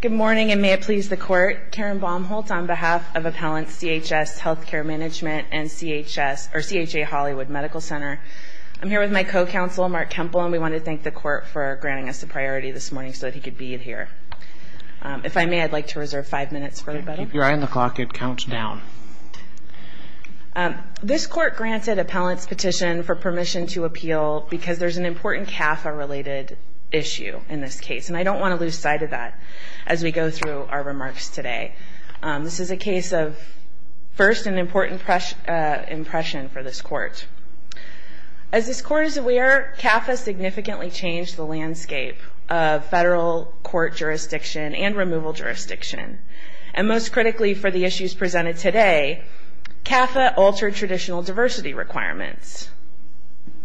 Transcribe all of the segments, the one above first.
Good morning and may it please the Court, Karen Baumholtz on behalf of Appellant CHS Health Care Management and CHA Hollywood Medical Center. I'm here with my co-counsel, Mark Kempel, and we want to thank the Court for granting us the priority this morning so that he could be here. If I may, I'd like to reserve five minutes for rebuttal. Keep your eye on the clock. It counts down. This Court granted Appellant's petition for permission to appeal because there's an important CAFA-related issue in this case, and I don't want to lose sight of that as we go through our remarks today. This is a case of, first, an important impression for this Court. As this Court is aware, CAFA significantly changed the landscape of federal court jurisdiction and removal jurisdiction, and most critically for the issues presented today, CAFA altered traditional diversity requirements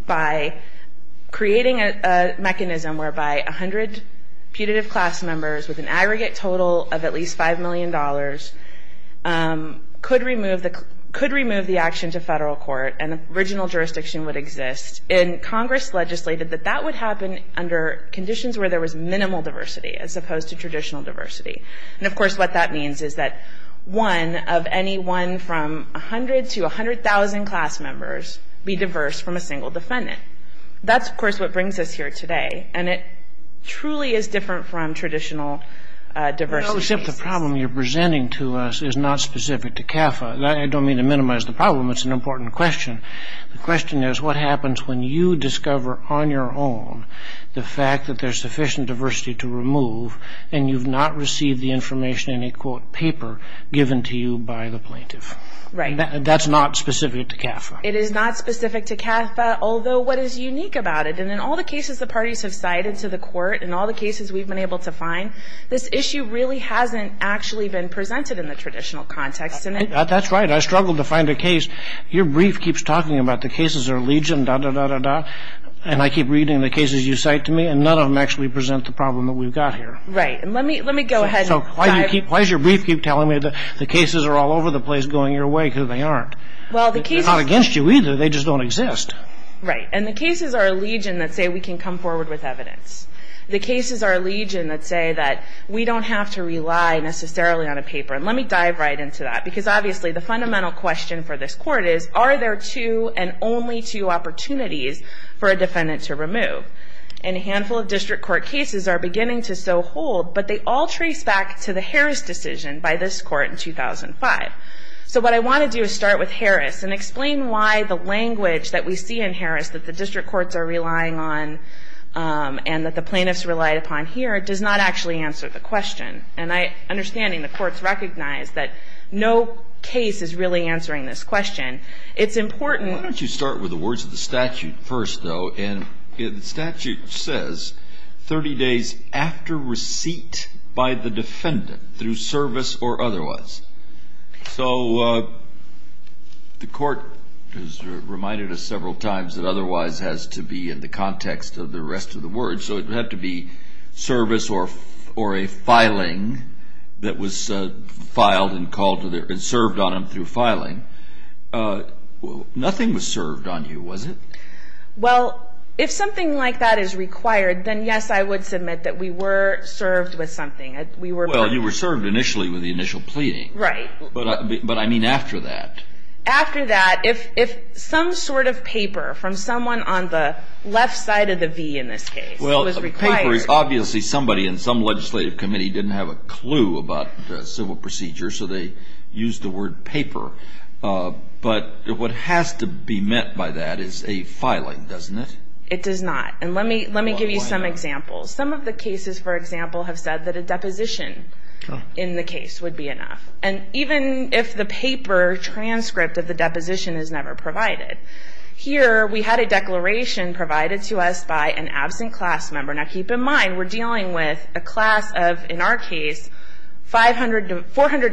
by creating a mechanism whereby 100 putative class members with an aggregate total of at least $5 million could remove the action to federal court and the original jurisdiction would exist. And Congress legislated that that would happen under conditions where there was minimal diversity as opposed to traditional diversity. And, of course, what that means is that one of any one from 100 to 100,000 class members be diverse from a single defendant. That's, of course, what brings us here today, and it truly is different from traditional diversity. Except the problem you're presenting to us is not specific to CAFA. I don't mean to minimize the problem. It's an important question. The question is what happens when you discover on your own the fact that there's sufficient diversity to remove and you've not received the information in a, quote, paper given to you by the plaintiff. Right. That's not specific to CAFA. It is not specific to CAFA, although what is unique about it, and in all the cases the parties have cited to the Court and all the cases we've been able to find, this issue really hasn't actually been presented in the traditional context. That's right. I struggled to find a case. Your brief keeps talking about the cases are legion, da, da, da, da, da, and I keep reading the cases you cite to me, and none of them actually present the problem that we've got here. Right. Let me go ahead. So why does your brief keep telling me that the cases are all over the place going your way because they aren't? Well, the cases... They're not against you, either. They just don't exist. Right. And the cases are legion that say we can come forward with evidence. The cases are legion that say that we don't have to rely necessarily on a paper. And let me dive right into that because, obviously, the fundamental question for this Court is, are there two and only two opportunities for a defendant to remove? And a handful of district court cases are beginning to so hold, but they all trace back to the Harris decision by this Court in 2005. So what I want to do is start with Harris and explain why the language that we see in Harris that the district courts are relying on and that the plaintiffs relied upon here does not actually answer the question. And my understanding, the courts recognize that no case is really answering this question. It's important... Why don't you start with the words of the statute first, though? And the statute says 30 days after receipt by the defendant through service or otherwise. So the court has reminded us several times that otherwise has to be in the context of the rest of the words. So it would have to be service or a filing that was filed and served on him through filing. Nothing was served on you, was it? Well, if something like that is required, then yes, I would submit that we were served with something. Well, you were served initially with the initial pleading. Right. But I mean after that. After that, if some sort of paper from someone on the left side of the V in this case was required... Well, the paper is obviously somebody in some legislative committee didn't have a clue about civil procedure, so they used the word paper. But what has to be meant by that is a filing, doesn't it? It does not. And let me give you some examples. Some of the cases, for example, have said that a deposition in the case would be enough. And even if the paper transcript of the deposition is never provided. Here, we had a declaration provided to us by an absent class member. Now, keep in mind, we're dealing with a class of, in our case, 400 to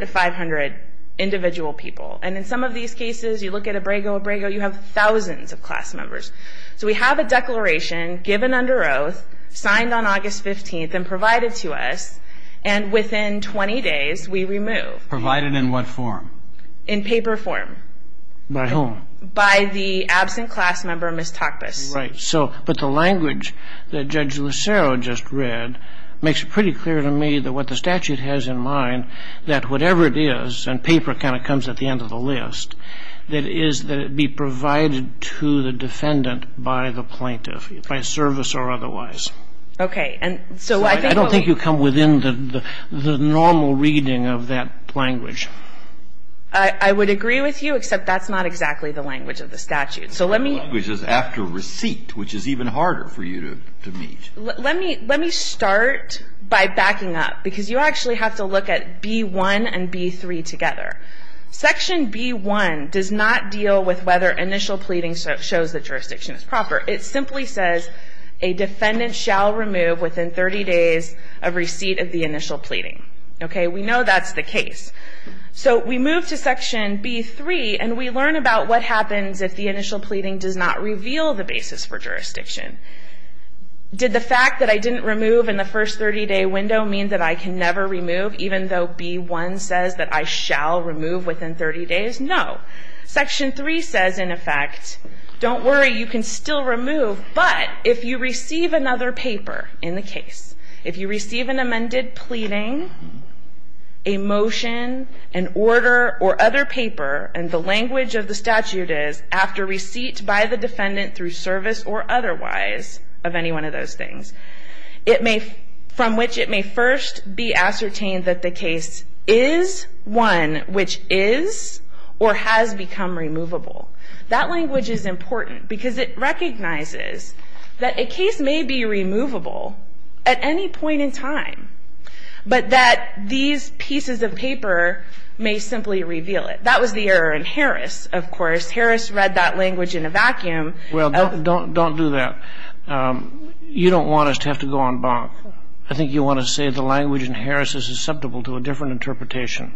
500 individual people. And in some of these cases, you look at Abrego, Abrego, you have thousands of class members. So we have a declaration given under oath, signed on August 15th, and provided to us. And within 20 days, we remove. Provided in what form? In paper form. By whom? By the absent class member, Ms. Takpas. Right. But the language that Judge Lucero just read makes it pretty clear to me that what the statute has in mind, that whatever it is, and paper kind of comes at the end of the list, that is that it be provided to the defendant by the plaintiff, by service or otherwise. Okay. And so I think what we... I don't think you come within the normal reading of that language. I would agree with you, except that's not exactly the language of the statute. So let me... The language is after receipt, which is even harder for you to meet. Let me start by backing up. Because you actually have to look at B-1 and B-3 together. Section B-1 does not deal with whether initial pleading shows that jurisdiction is proper. It simply says a defendant shall remove within 30 days of receipt of the initial pleading. Okay. We know that's the case. So we move to Section B-3, and we learn about what happens if the initial pleading does not reveal the basis for jurisdiction. Did the fact that I didn't remove in the first 30-day window mean that I can never remove, even though B-1 says that I shall remove within 30 days? No. Section 3 says, in effect, don't worry, you can still remove, but if you receive another paper in the case, if you receive an amended pleading, a motion, an order, or other paper, and the language of the statute is after receipt by the defendant through service or otherwise of any one of those things, from which it may first be ascertained that the case is one which is or has become removable, that language is important because it recognizes that a case may be removable at any point in time, but that these pieces of paper may simply reveal it. That was the error in Harris, of course. Harris read that language in a vacuum. Well, don't do that. You don't want us to have to go on bonk. I think you want to say the language in Harris is susceptible to a different interpretation.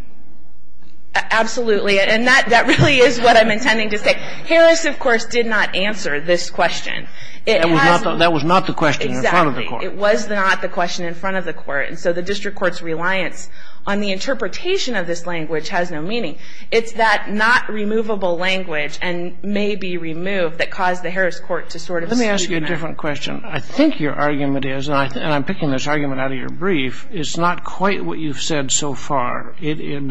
Absolutely, and that really is what I'm intending to say. Harris, of course, did not answer this question. That was not the question in front of the court. Exactly. It was not the question in front of the court, and so the district court's reliance on the interpretation of this language has no meaning. It's that not-removable language and may-be-removed that caused the Harris court to sort of see that. Let me ask you a different question. I think your argument is, and I'm picking this argument out of your brief, it's not quite what you've said so far, but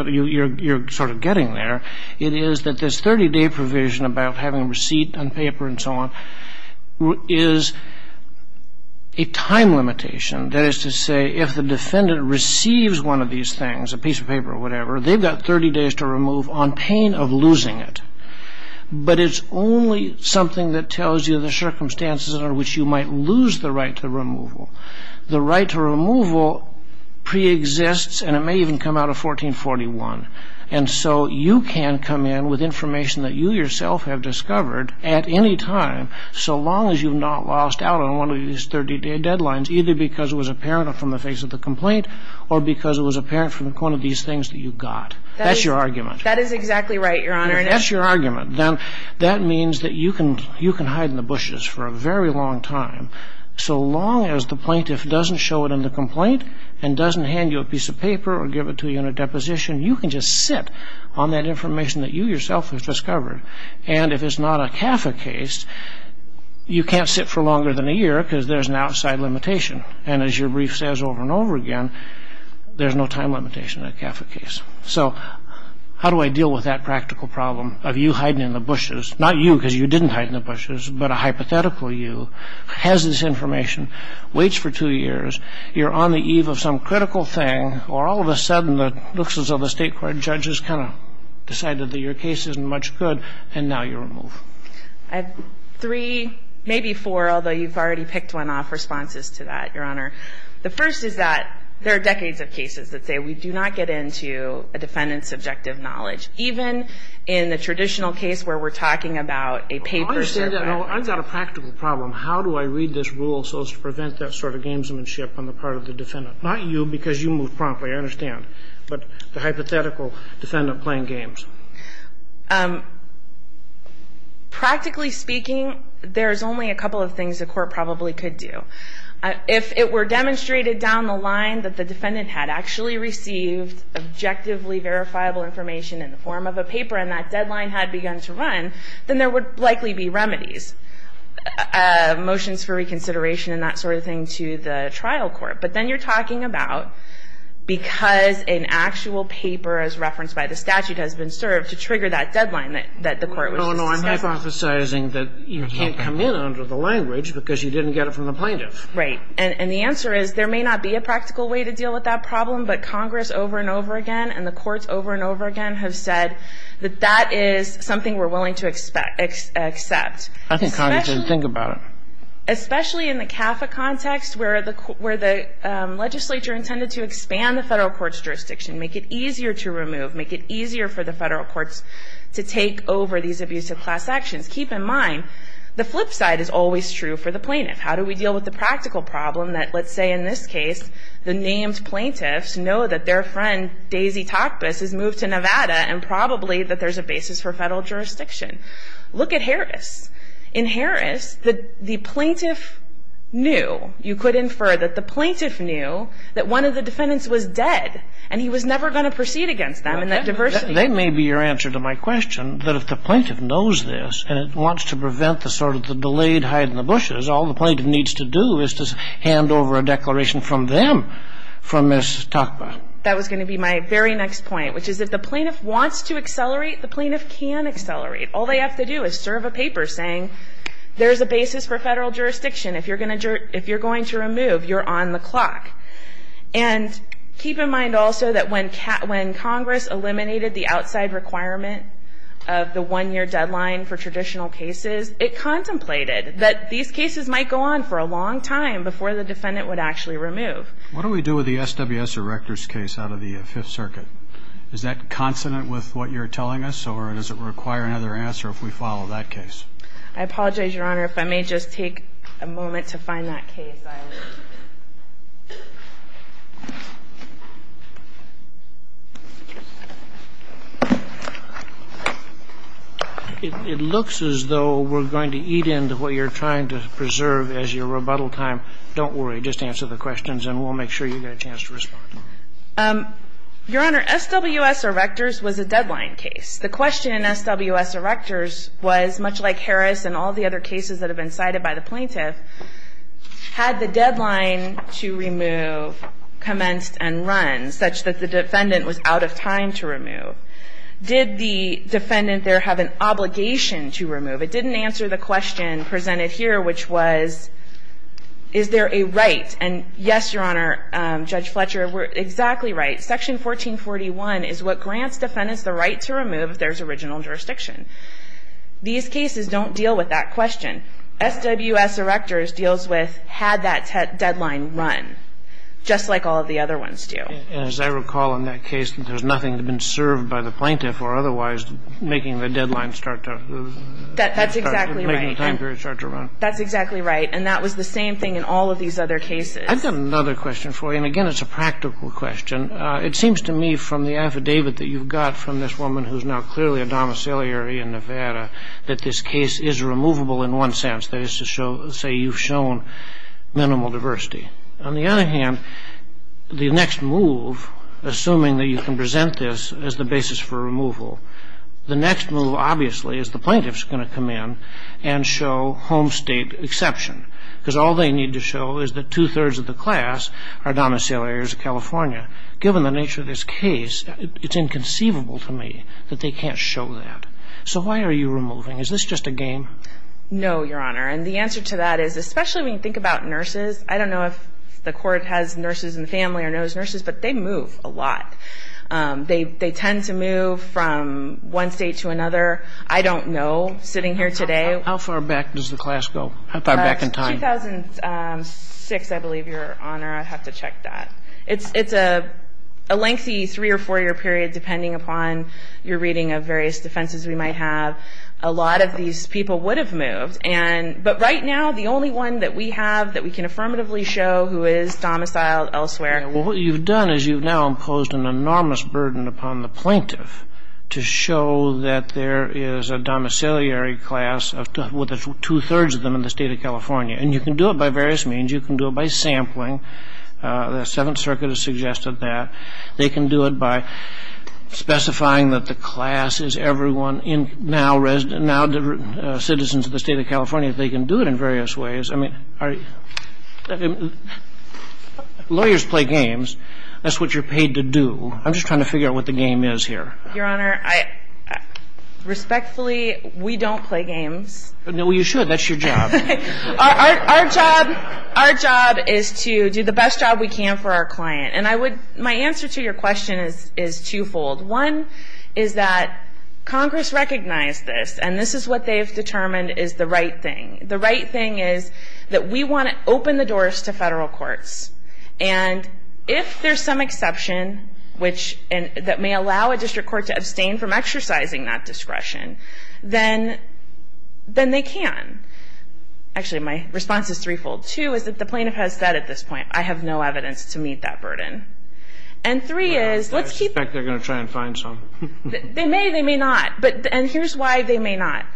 you're sort of getting there. It is that this 30-day provision about having a receipt on paper and so on is a time limitation. That is to say, if the defendant receives one of these things, a piece of paper or whatever, they've got 30 days to remove on pain of losing it, but it's only something that tells you the circumstances under which you might lose the right to removal. The right to removal preexists, and it may even come out of 1441, and so you can come in with information that you yourself have discovered at any time, so long as you've not lost out on one of these 30-day deadlines, either because it was apparent from the face of the complaint or because it was apparent from one of these things that you got. That's your argument. That is exactly right, Your Honor. That's your argument. That means that you can hide in the bushes for a very long time, so long as the plaintiff doesn't show it in the complaint and doesn't hand you a piece of paper or give it to you in a deposition. You can just sit on that information that you yourself have discovered, and if it's not a CAFA case, you can't sit for longer than a year because there's an outside limitation, and as your brief says over and over again, there's no time limitation in a CAFA case. So how do I deal with that practical problem of you hiding in the bushes? Not you because you didn't hide in the bushes, but a hypothetical you has this information, waits for two years, you're on the eve of some critical thing, or all of a sudden it looks as though the state court judges kind of decided that your case isn't much good, and now you're removed. I have three, maybe four, although you've already picked one off, responses to that, Your Honor. The first is that there are decades of cases that say we do not get into a defendant's subjective knowledge, even in the traditional case where we're talking about a paper. I understand that. I've got a practical problem. How do I read this rule so as to prevent that sort of gamesmanship on the part of the defendant? Not you because you moved promptly, I understand, but the hypothetical defendant playing games. Practically speaking, there's only a couple of things the court probably could do. If it were demonstrated down the line that the defendant had actually received objectively verifiable information in the form of a paper, and that deadline had begun to run, then there would likely be remedies, motions for reconsideration and that sort of thing to the trial court. But then you're talking about because an actual paper as referenced by the statute has been served to trigger that deadline that the court was discussing. No, no, I'm hypothesizing that you can't come in under the language because you didn't get it from the plaintiff. Right, and the answer is there may not be a practical way to deal with that problem, but Congress over and over again and the courts over and over again have said that that is something we're willing to accept. I think Congress should think about it. Especially in the CAFA context where the legislature intended to expand the federal court's jurisdiction, make it easier to remove, make it easier for the federal courts to take over these abusive class actions. Keep in mind, the flip side is always true for the plaintiff. How do we deal with the practical problem that, let's say in this case, the named plaintiffs know that their friend Daisy Takbis has moved to Nevada and probably that there's a basis for federal jurisdiction? Look at Harris. In Harris, the plaintiff knew, you could infer that the plaintiff knew that one of the defendants was dead and he was never going to proceed against them. Okay. And that diversity. That may be your answer to my question, that if the plaintiff knows this and it wants to prevent the sort of delayed hide in the bushes, all the plaintiff needs to do is to hand over a declaration from them for Ms. Takba. That was going to be my very next point, which is if the plaintiff wants to accelerate, the plaintiff can accelerate. All they have to do is serve a paper saying there's a basis for federal jurisdiction. If you're going to remove, you're on the clock. And keep in mind also that when Congress eliminated the outside requirement of the one-year deadline for traditional cases, it contemplated that these cases might go on for a long time before the defendant would actually remove. What do we do with the SWS Erector's case out of the Fifth Circuit? Is that consonant with what you're telling us or does it require another answer if we follow that case? I apologize, Your Honor, if I may just take a moment to find that case. It looks as though we're going to eat into what you're trying to preserve as your rebuttal time. Don't worry. Just answer the questions and we'll make sure you get a chance to respond. Your Honor, SWS Erector's was a deadline case. The question in SWS Erector's was, much like Harris and all the other cases that had the deadline to remove, commenced and run, such that the defendant was out of time to remove. Did the defendant there have an obligation to remove? It didn't answer the question presented here, which was, is there a right? And, yes, Your Honor, Judge Fletcher, we're exactly right. Section 1441 is what grants defendants the right to remove if there's original jurisdiction. These cases don't deal with that question. SWS Erector's deals with had that deadline run, just like all of the other ones do. As I recall in that case, there's nothing to have been served by the plaintiff or otherwise making the deadline start to run. That's exactly right. And that was the same thing in all of these other cases. I've got another question for you, and, again, it's a practical question. It seems to me from the affidavit that you've got from this woman who's now clearly a say you've shown minimal diversity. On the other hand, the next move, assuming that you can present this as the basis for removal, the next move, obviously, is the plaintiff's going to come in and show home state exception, because all they need to show is that two-thirds of the class are domiciliaries of California. Given the nature of this case, it's inconceivable to me that they can't show that. So why are you removing? Is this just a game? No, Your Honor. And the answer to that is, especially when you think about nurses, I don't know if the court has nurses in the family or knows nurses, but they move a lot. They tend to move from one state to another. I don't know, sitting here today. How far back does the class go? How far back in time? 2006, I believe, Your Honor. I'd have to check that. It's a lengthy three- or four-year period, depending upon your reading of various defenses we might have. A lot of these people would have moved. But right now, the only one that we have that we can affirmatively show who is domiciled elsewhere. Well, what you've done is you've now imposed an enormous burden upon the plaintiff to show that there is a domiciliary class with two-thirds of them in the state of California. And you can do it by various means. You can do it by sampling. The Seventh Circuit has suggested that. They can do it by specifying that the class is everyone now citizens of the state of California. They can do it in various ways. I mean, lawyers play games. That's what you're paid to do. I'm just trying to figure out what the game is here. Your Honor, respectfully, we don't play games. No, you should. That's your job. Our job is to do the best job we can for our client. And my answer to your question is twofold. One is that Congress recognized this, and this is what they've determined is the right thing. The right thing is that we want to open the doors to federal courts. And if there's some exception that may allow a district court to abstain from exercising that discretion, then they can. Actually, my response is threefold. Two is that the plaintiff has said at this point, I have no evidence to meet that burden. I suspect they're going to try and find some. They may, they may not. And here's why they may not.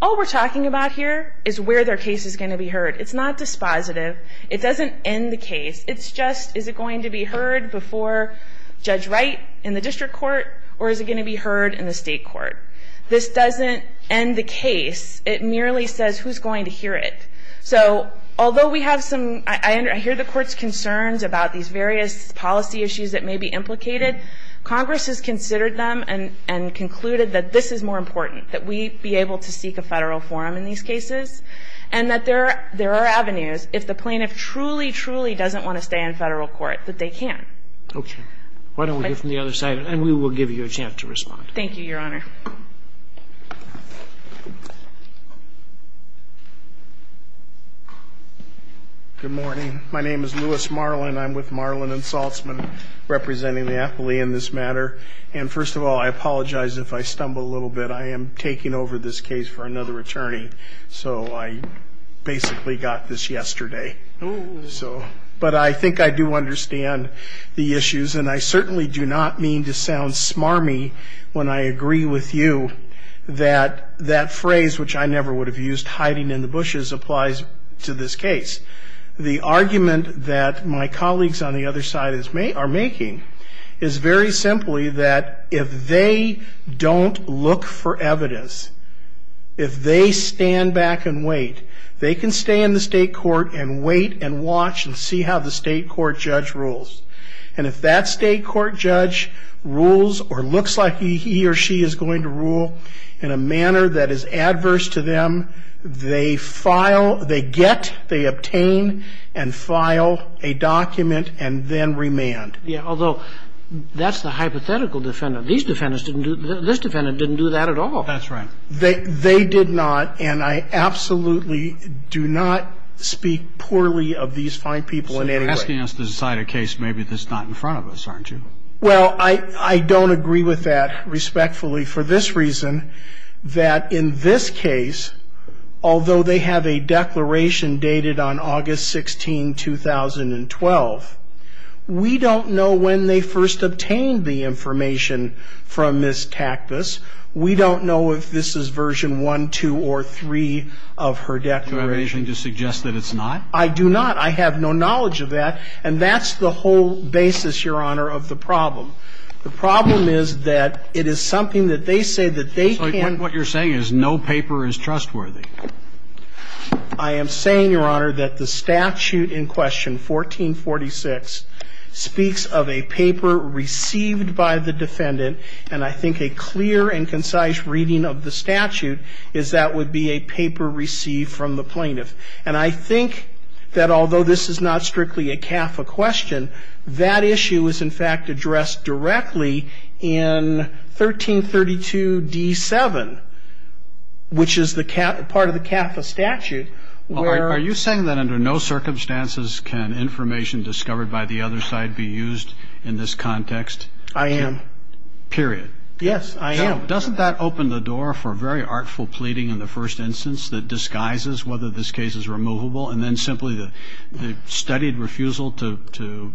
All we're talking about here is where their case is going to be heard. It's not dispositive. It doesn't end the case. It's just, is it going to be heard before Judge Wright in the district court, or is it going to be heard in the state court? This doesn't end the case. It merely says who's going to hear it. So although we have some, I hear the Court's concerns about these various policy issues that may be implicated. Congress has considered them and concluded that this is more important, that we be able to seek a federal forum in these cases, and that there are avenues, if the plaintiff truly, truly doesn't want to stay in federal court, that they can. Okay. Why don't we hear from the other side, and we will give you a chance to respond. Thank you, Your Honor. Good morning. My name is Louis Marlin. I'm with Marlin and Saltzman, representing the athlete in this matter. And first of all, I apologize if I stumble a little bit. I am taking over this case for another attorney. So I basically got this yesterday. Oh. So, but I think I do understand the issues, and I certainly do not mean to sound smarmy when I agree with Judge Wright. I agree with you that that phrase, which I never would have used, hiding in the bushes, applies to this case. The argument that my colleagues on the other side are making is very simply that if they don't look for evidence, if they stand back and wait, they can stay in the state court and wait and watch and see how the state court judge rules. And if that state court judge rules or looks like he or she is going to rule in a manner that is adverse to them, they file, they get, they obtain and file a document and then remand. Yeah, although that's the hypothetical defendant. These defendants didn't do, this defendant didn't do that at all. That's right. They did not, and I absolutely do not speak poorly of these fine people in any way. Well, you're asking us to decide a case maybe that's not in front of us, aren't you? Well, I don't agree with that respectfully for this reason, that in this case, although they have a declaration dated on August 16, 2012, we don't know when they first obtained the information from Ms. Tactus. We don't know if this is version 1, 2, or 3 of her declaration. Do you have anything to suggest that it's not? I do not. I have no knowledge of that, and that's the whole basis, Your Honor, of the problem. The problem is that it is something that they say that they can't. So what you're saying is no paper is trustworthy? I am saying, Your Honor, that the statute in question, 1446, speaks of a paper received by the defendant, and I think a clear and concise reading of the statute is that would be a paper received from the plaintiff. And I think that although this is not strictly a CAFA question, that issue is, in fact, addressed directly in 1332d7, which is the part of the CAFA statute where ---- Are you saying that under no circumstances can information discovered by the other side be used in this context? I am. Period. Yes, I am. Now, doesn't that open the door for very artful pleading in the first instance that disguises whether this case is removable, and then simply the studied refusal to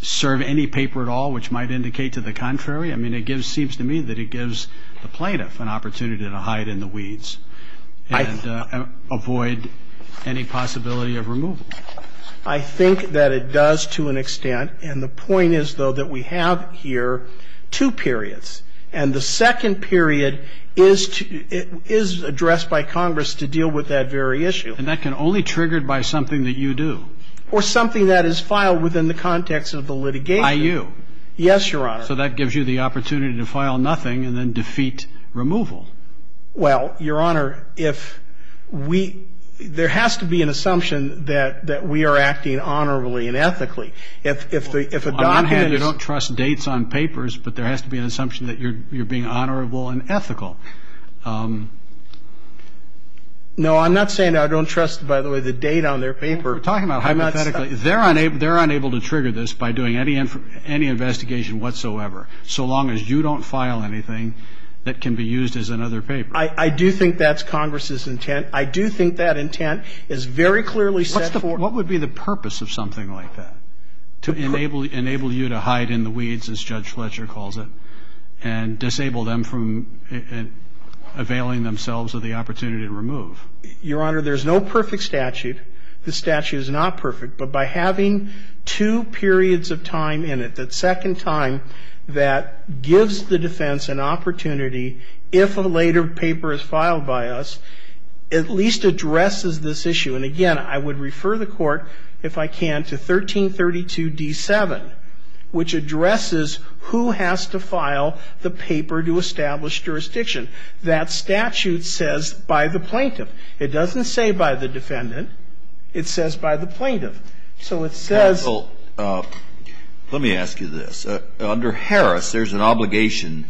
serve any paper at all, which might indicate to the contrary? I mean, it seems to me that it gives the plaintiff an opportunity to hide in the weeds and avoid any possibility of removal. I think that it does to an extent, and the point is, though, that we have here two periods. And the second period is addressed by Congress to deal with that very issue. And that can only be triggered by something that you do. Or something that is filed within the context of the litigation. By you. Yes, Your Honor. So that gives you the opportunity to file nothing and then defeat removal. Well, Your Honor, if we ---- there has to be an assumption that we are acting honorably and ethically. If a document is ---- That you're being honorable and ethical. No, I'm not saying I don't trust, by the way, the data on their paper. We're talking about hypothetically. They're unable to trigger this by doing any investigation whatsoever, so long as you don't file anything that can be used as another paper. I do think that's Congress's intent. I do think that intent is very clearly set for ---- What would be the purpose of something like that? To enable you to hide in the weeds, as Judge Fletcher calls it, and disable them from availing themselves of the opportunity to remove. Your Honor, there's no perfect statute. The statute is not perfect. But by having two periods of time in it, that second time that gives the defense an opportunity if a later paper is filed by us, at least addresses this issue. And again, I would refer the Court, if I can, to 1332d7, which addresses who has to file the paper to establish jurisdiction. That statute says by the plaintiff. It doesn't say by the defendant. It says by the plaintiff. So it says ---- Counsel, let me ask you this. Under Harris, there's an obligation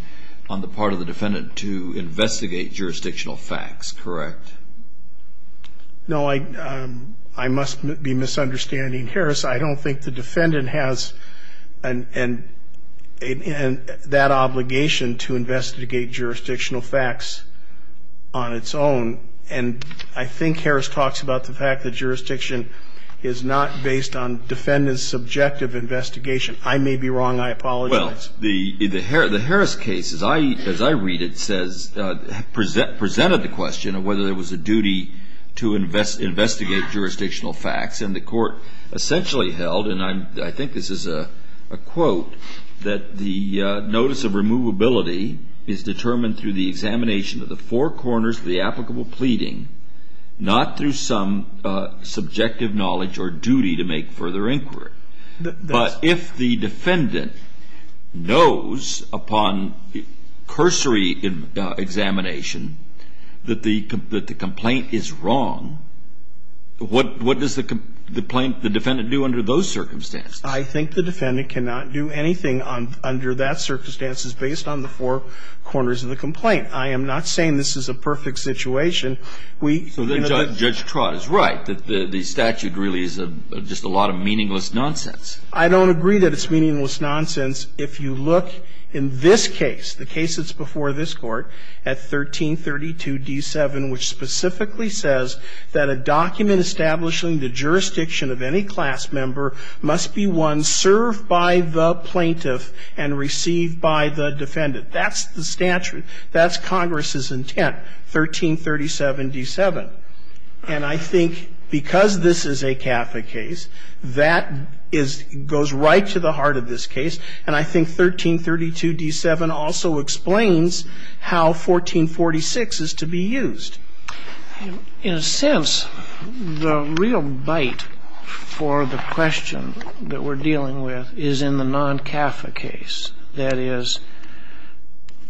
on the part of the defendant to investigate jurisdictional facts, correct? No, I must be misunderstanding Harris. I don't think the defendant has that obligation to investigate jurisdictional facts on its own. And I think Harris talks about the fact that jurisdiction is not based on defendant's subjective investigation. I may be wrong. I apologize. Well, the Harris case, as I read it, presented the question of whether there was a duty to investigate jurisdictional facts. And the Court essentially held, and I think this is a quote, that the notice of removability is determined through the examination of the four corners of the applicable pleading, not through some subjective knowledge or duty to make further inquiry. But if the defendant knows upon cursory examination that the complaint is wrong, what does the defendant do under those circumstances? I think the defendant cannot do anything under that circumstances based on the four corners of the complaint. I am not saying this is a perfect situation. So then Judge Trott is right, that the statute really is just a lot of meaningless nonsense. I don't agree that it's meaningless nonsense. If you look in this case, the case that's before this Court, at 1332d7, which specifically says that a document establishing the jurisdiction of any class member must be one served by the plaintiff and received by the defendant. That's the statute. That's Congress's intent. 1337d7. And I think because this is a CAFA case, that is goes right to the heart of this case. And I think 1332d7 also explains how 1446 is to be used. In a sense, the real bite for the question that we're dealing with is in the non-CAFA case. That is,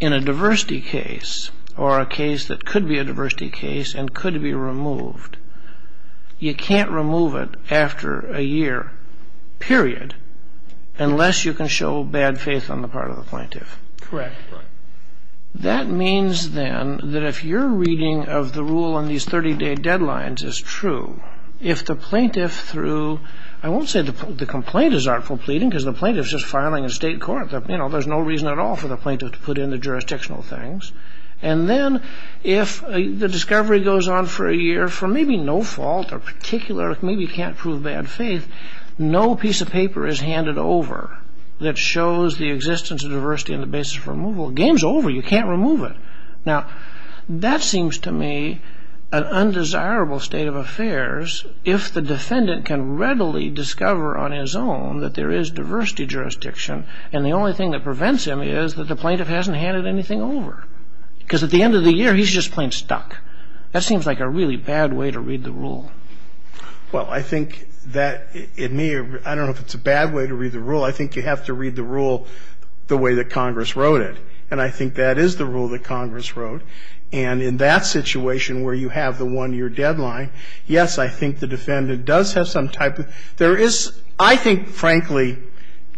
in a diversity case or a case that could be a diversity case and could be removed, you can't remove it after a year, period, unless you can show bad faith on the part of the plaintiff. Correct. That means, then, that if your reading of the rule on these 30-day deadlines is true, if the plaintiff threw – I won't say the complaint is artful pleading because the plaintiff's just filing in state court. There's no reason at all for the plaintiff to put in the jurisdictional things. And then if the discovery goes on for a year for maybe no fault or particular – maybe you can't prove bad faith, no piece of paper is handed over that shows the existence of diversity on the basis of removal. Game's over. You can't remove it. Now, that seems to me an undesirable state of affairs if the defendant can readily discover on his own that there is diversity jurisdiction and the only thing that prevents him is that the plaintiff hasn't handed anything over because at the end of the year, he's just plain stuck. That seems like a really bad way to read the rule. Well, I think that it may – I don't know if it's a bad way to read the rule. I think you have to read the rule the way that Congress wrote it, and I think that is the rule that Congress wrote. And in that situation where you have the one-year deadline, yes, I think the defendant does have some type of – there is, I think, frankly,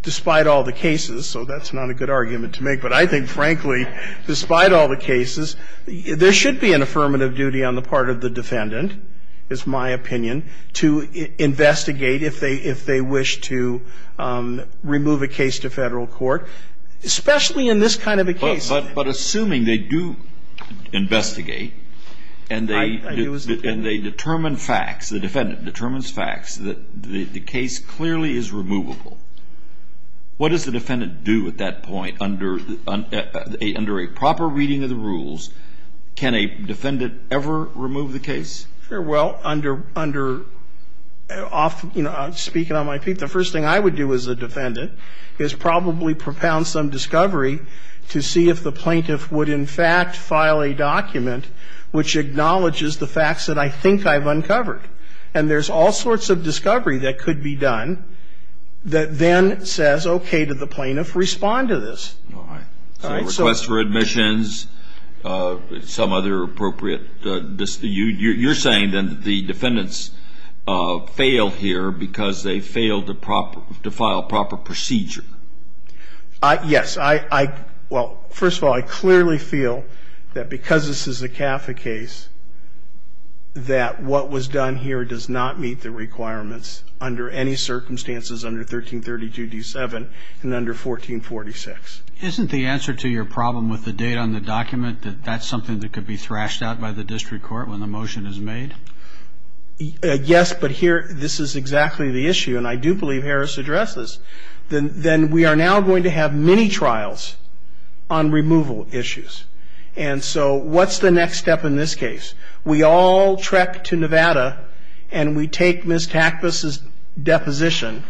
despite all the cases, so that's not a good argument to make, but I think, frankly, despite all the cases, there should be an affirmative duty on the part of the defendant, is my opinion, to investigate if they wish to remove a case to Federal court, especially in this kind of a case. But assuming they do investigate and they determine facts, the defendant determines facts that the case clearly is removable, what does the defendant do at that point under a proper reading of the rules? Can a defendant ever remove the case? Well, under – speaking on my feet, the first thing I would do as a defendant is probably propound some discovery to see if the plaintiff would in fact file a document which acknowledges the facts that I think I've uncovered. And there's all sorts of discovery that could be done that then says, okay, did the plaintiff respond to this? All right. So a request for admissions, some other appropriate – you're saying, then, that the defendants failed here because they failed to proper – to file proper procedure. Yes. I – well, first of all, I clearly feel that because this is a CAFA case that what was done here does not meet the requirements under any circumstances under 1332d7 and under 1446. Isn't the answer to your problem with the data on the document that that's something that could be thrashed out by the district court when the motion is made? Yes. But here, this is exactly the issue. And I do believe Harris addressed this. The – then we are now going to have many trials on removal issues. And so what's the next step in this case? We all trek to Nevada and we take Ms. Takpas' deposition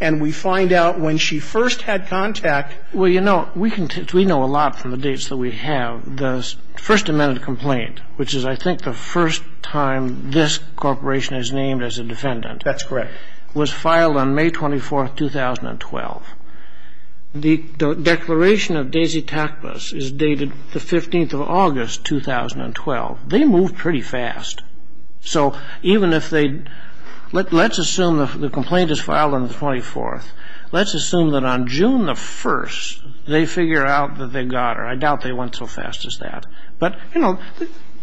and we find out when she first had contact – Well, you know, we can – we know a lot from the dates that we have. The first amended complaint, which is, I think, the first time this corporation is named as a defendant – That's correct. Was filed on May 24, 2012. The declaration of Daisy Takpas is dated the 15th of August, 2012. They moved pretty fast. So even if they – let's assume the complaint is filed on the 24th. Let's assume that on June the 1st they figure out that they got her. I doubt they went so fast as that. But, you know,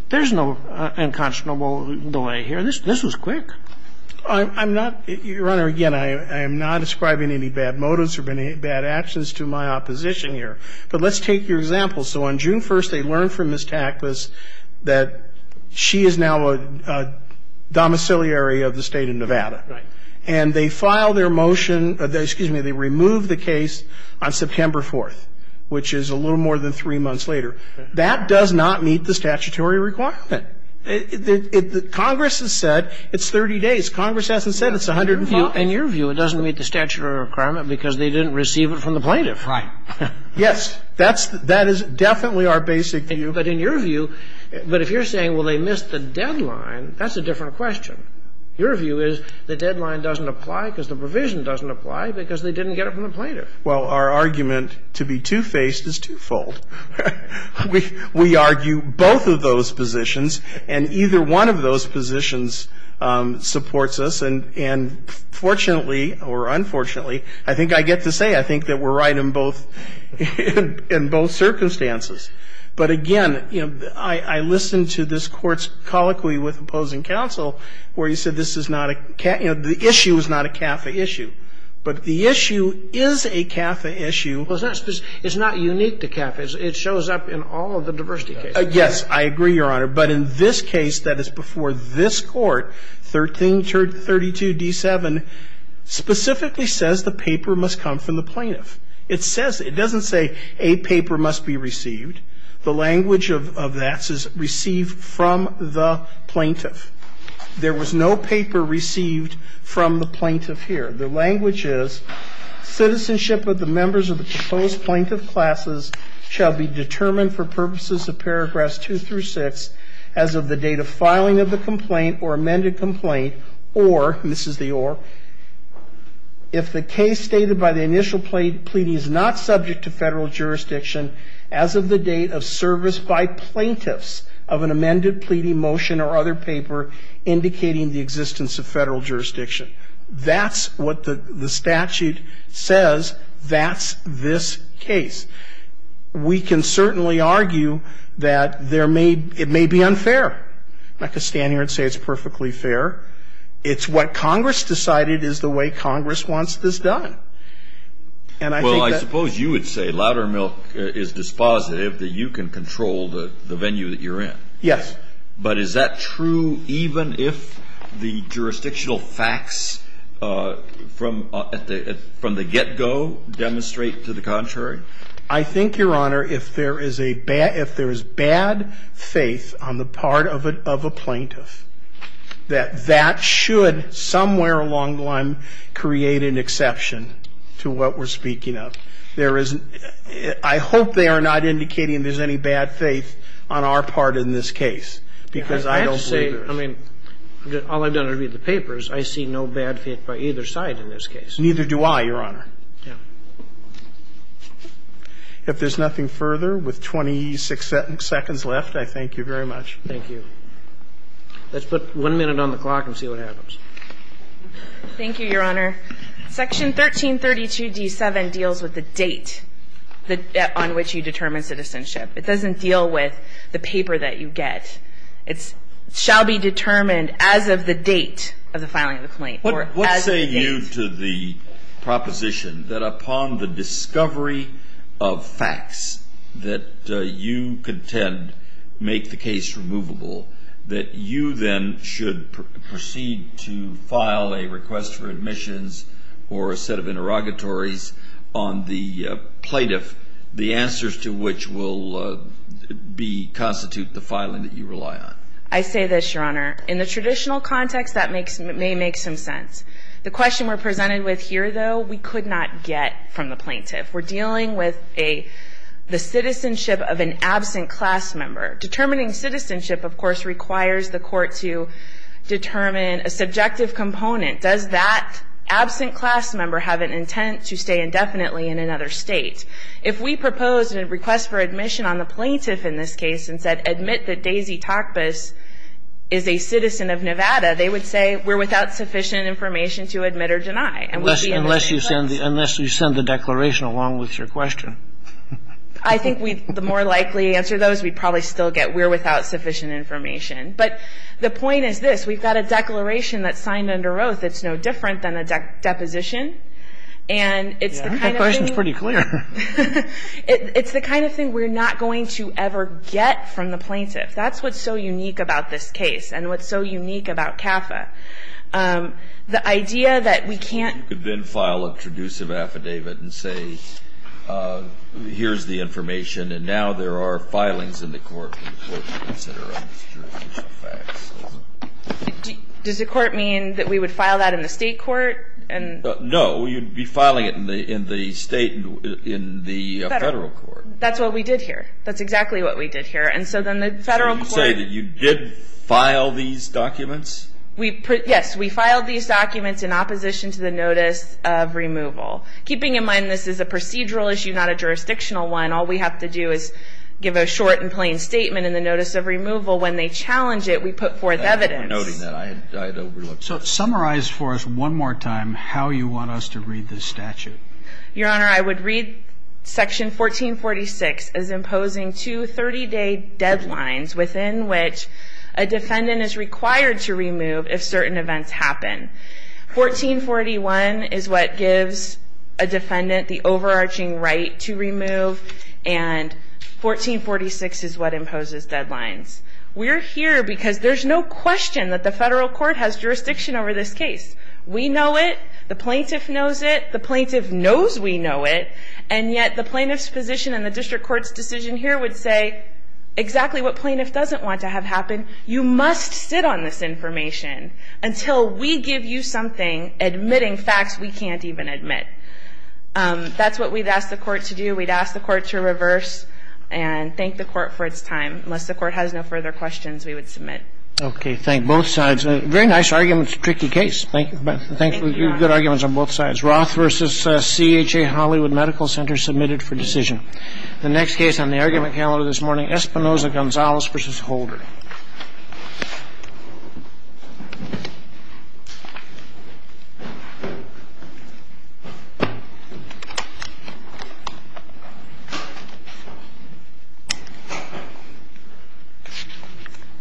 there's no unconscionable delay here. This was quick. I'm not – Your Honor, again, I am not ascribing any bad motives or bad actions to my opposition here. But let's take your example. So on June 1st they learned from Ms. Takpas that she is now a domiciliary of the State of Nevada. Right. And they filed their motion – excuse me, they removed the case on September 4th, which is a little more than three months later. That does not meet the statutory requirement. Congress has said it's 30 days. Congress hasn't said it's 150 days. In your view it doesn't meet the statutory requirement because they didn't receive it from the plaintiff. Right. Yes. That is definitely our basic view. But in your view – but if you're saying, well, they missed the deadline, that's a different question. Your view is the deadline doesn't apply because the provision doesn't apply because they didn't get it from the plaintiff. Well, our argument to be two-faced is twofold. We argue both of those positions, and either one of those positions supports us. And fortunately or unfortunately, I think I get to say I think that we're right in both – in both circumstances. But again, you know, I listened to this Court's colloquy with opposing counsel where he said this is not a – you know, the issue is not a CAFA issue. But the issue is a CAFA issue. Well, it's not unique to CAFA. It shows up in all of the diversity cases. Yes. I agree, Your Honor. But in this case that is before this Court, 1332d7, specifically says the paper must come from the plaintiff. It says – it doesn't say a paper must be received. The language of that says receive from the plaintiff. There was no paper received from the plaintiff here. The language is citizenship of the members of the proposed plaintiff classes shall be determined for purposes of paragraphs 2 through 6 as of the date of filing of the complaint or amended complaint or – and this is the or – if the case stated by the initial pleading is not subject to Federal jurisdiction as of the date of service by plaintiffs of an amended pleading motion or other paper indicating the existence of Federal jurisdiction. That's what the statute says. That's this case. We can certainly argue that there may – it may be unfair. I'm not going to stand here and say it's perfectly fair. It's what Congress decided is the way Congress wants this done. And I think that – Well, I suppose you would say Loudermilk is dispositive that you can control the venue that you're in. Yes. But is that true even if the jurisdictional facts from the get-go demonstrate to the contrary? I think, Your Honor, if there is a bad – if there is bad faith on the part of a plaintiff that that should somewhere along the line create an exception to what we're speaking of. There is – I hope they are not indicating there's any bad faith on our part in this case, because I don't believe there is. I have to say, I mean, all I've done to read the papers, I see no bad faith by either side in this case. Neither do I, Your Honor. Yeah. If there's nothing further, with 26 seconds left, I thank you very much. Thank you. Let's put one minute on the clock and see what happens. Thank you, Your Honor. Section 1332d7 deals with the date on which you determine citizenship. It doesn't deal with the paper that you get. It shall be determined as of the date of the filing of the complaint, or as of the date. What say you to the proposition that upon the discovery of facts that you contend make the case removable, that you then should proceed to file a request for admissions or a set of interrogatories on the plaintiff, the answers to which will constitute the filing that you rely on? I say this, Your Honor. In the traditional context, that may make some sense. The question we're presented with here, though, we could not get from the plaintiff. We're dealing with the citizenship of an absent class member. Determining citizenship, of course, requires the court to determine a subjective component. Does that absent class member have an intent to stay indefinitely in another state? If we proposed a request for admission on the plaintiff in this case and said, admit that Daisy Takbis is a citizen of Nevada, they would say we're without sufficient information to admit or deny. Unless you send the declaration along with your question. I think the more likely answer to those, we'd probably still get we're without sufficient information. But the point is this. We've got a declaration that's signed under oath. It's no different than a deposition. And it's the kind of thing we're not going to ever get from the plaintiff. That's what's so unique about this case and what's so unique about CAFA. The idea that we can't. You could then file a traducive affidavit and say here's the information and now there are filings in the court. Does the court mean that we would file that in the state court? No. You'd be filing it in the state, in the federal court. That's what we did here. That's exactly what we did here. And so then the federal court. So you say that you did file these documents? Yes. We filed these documents in opposition to the notice of removal. Keeping in mind this is a procedural issue, not a jurisdictional one. All we have to do is give a short and plain statement in the notice of removal. When they challenge it, we put forth evidence. Noting that, I had overlooked. So summarize for us one more time how you want us to read this statute. Your Honor, I would read section 1446 as imposing two 30-day deadlines within which a defendant is required to remove if certain events happen. 1441 is what gives a defendant the overarching right to remove. And 1446 is what imposes deadlines. We're here because there's no question that the federal court has jurisdiction over this case. We know it. The plaintiff knows it. The plaintiff knows we know it. And yet the plaintiff's position in the district court's decision here would say exactly what plaintiff doesn't want to have happen. You must sit on this information until we give you something admitting facts we can't even admit. That's what we'd ask the court to do. We'd ask the court to reverse and thank the court for its time. Unless the court has no further questions, we would submit. Okay. Thank both sides. Very nice arguments. Tricky case. Thank you. Good arguments on both sides. Roth v. CHA Hollywood Medical Center submitted for decision. The next case on the argument calendar this morning, Espinosa-Gonzalez v. Holder.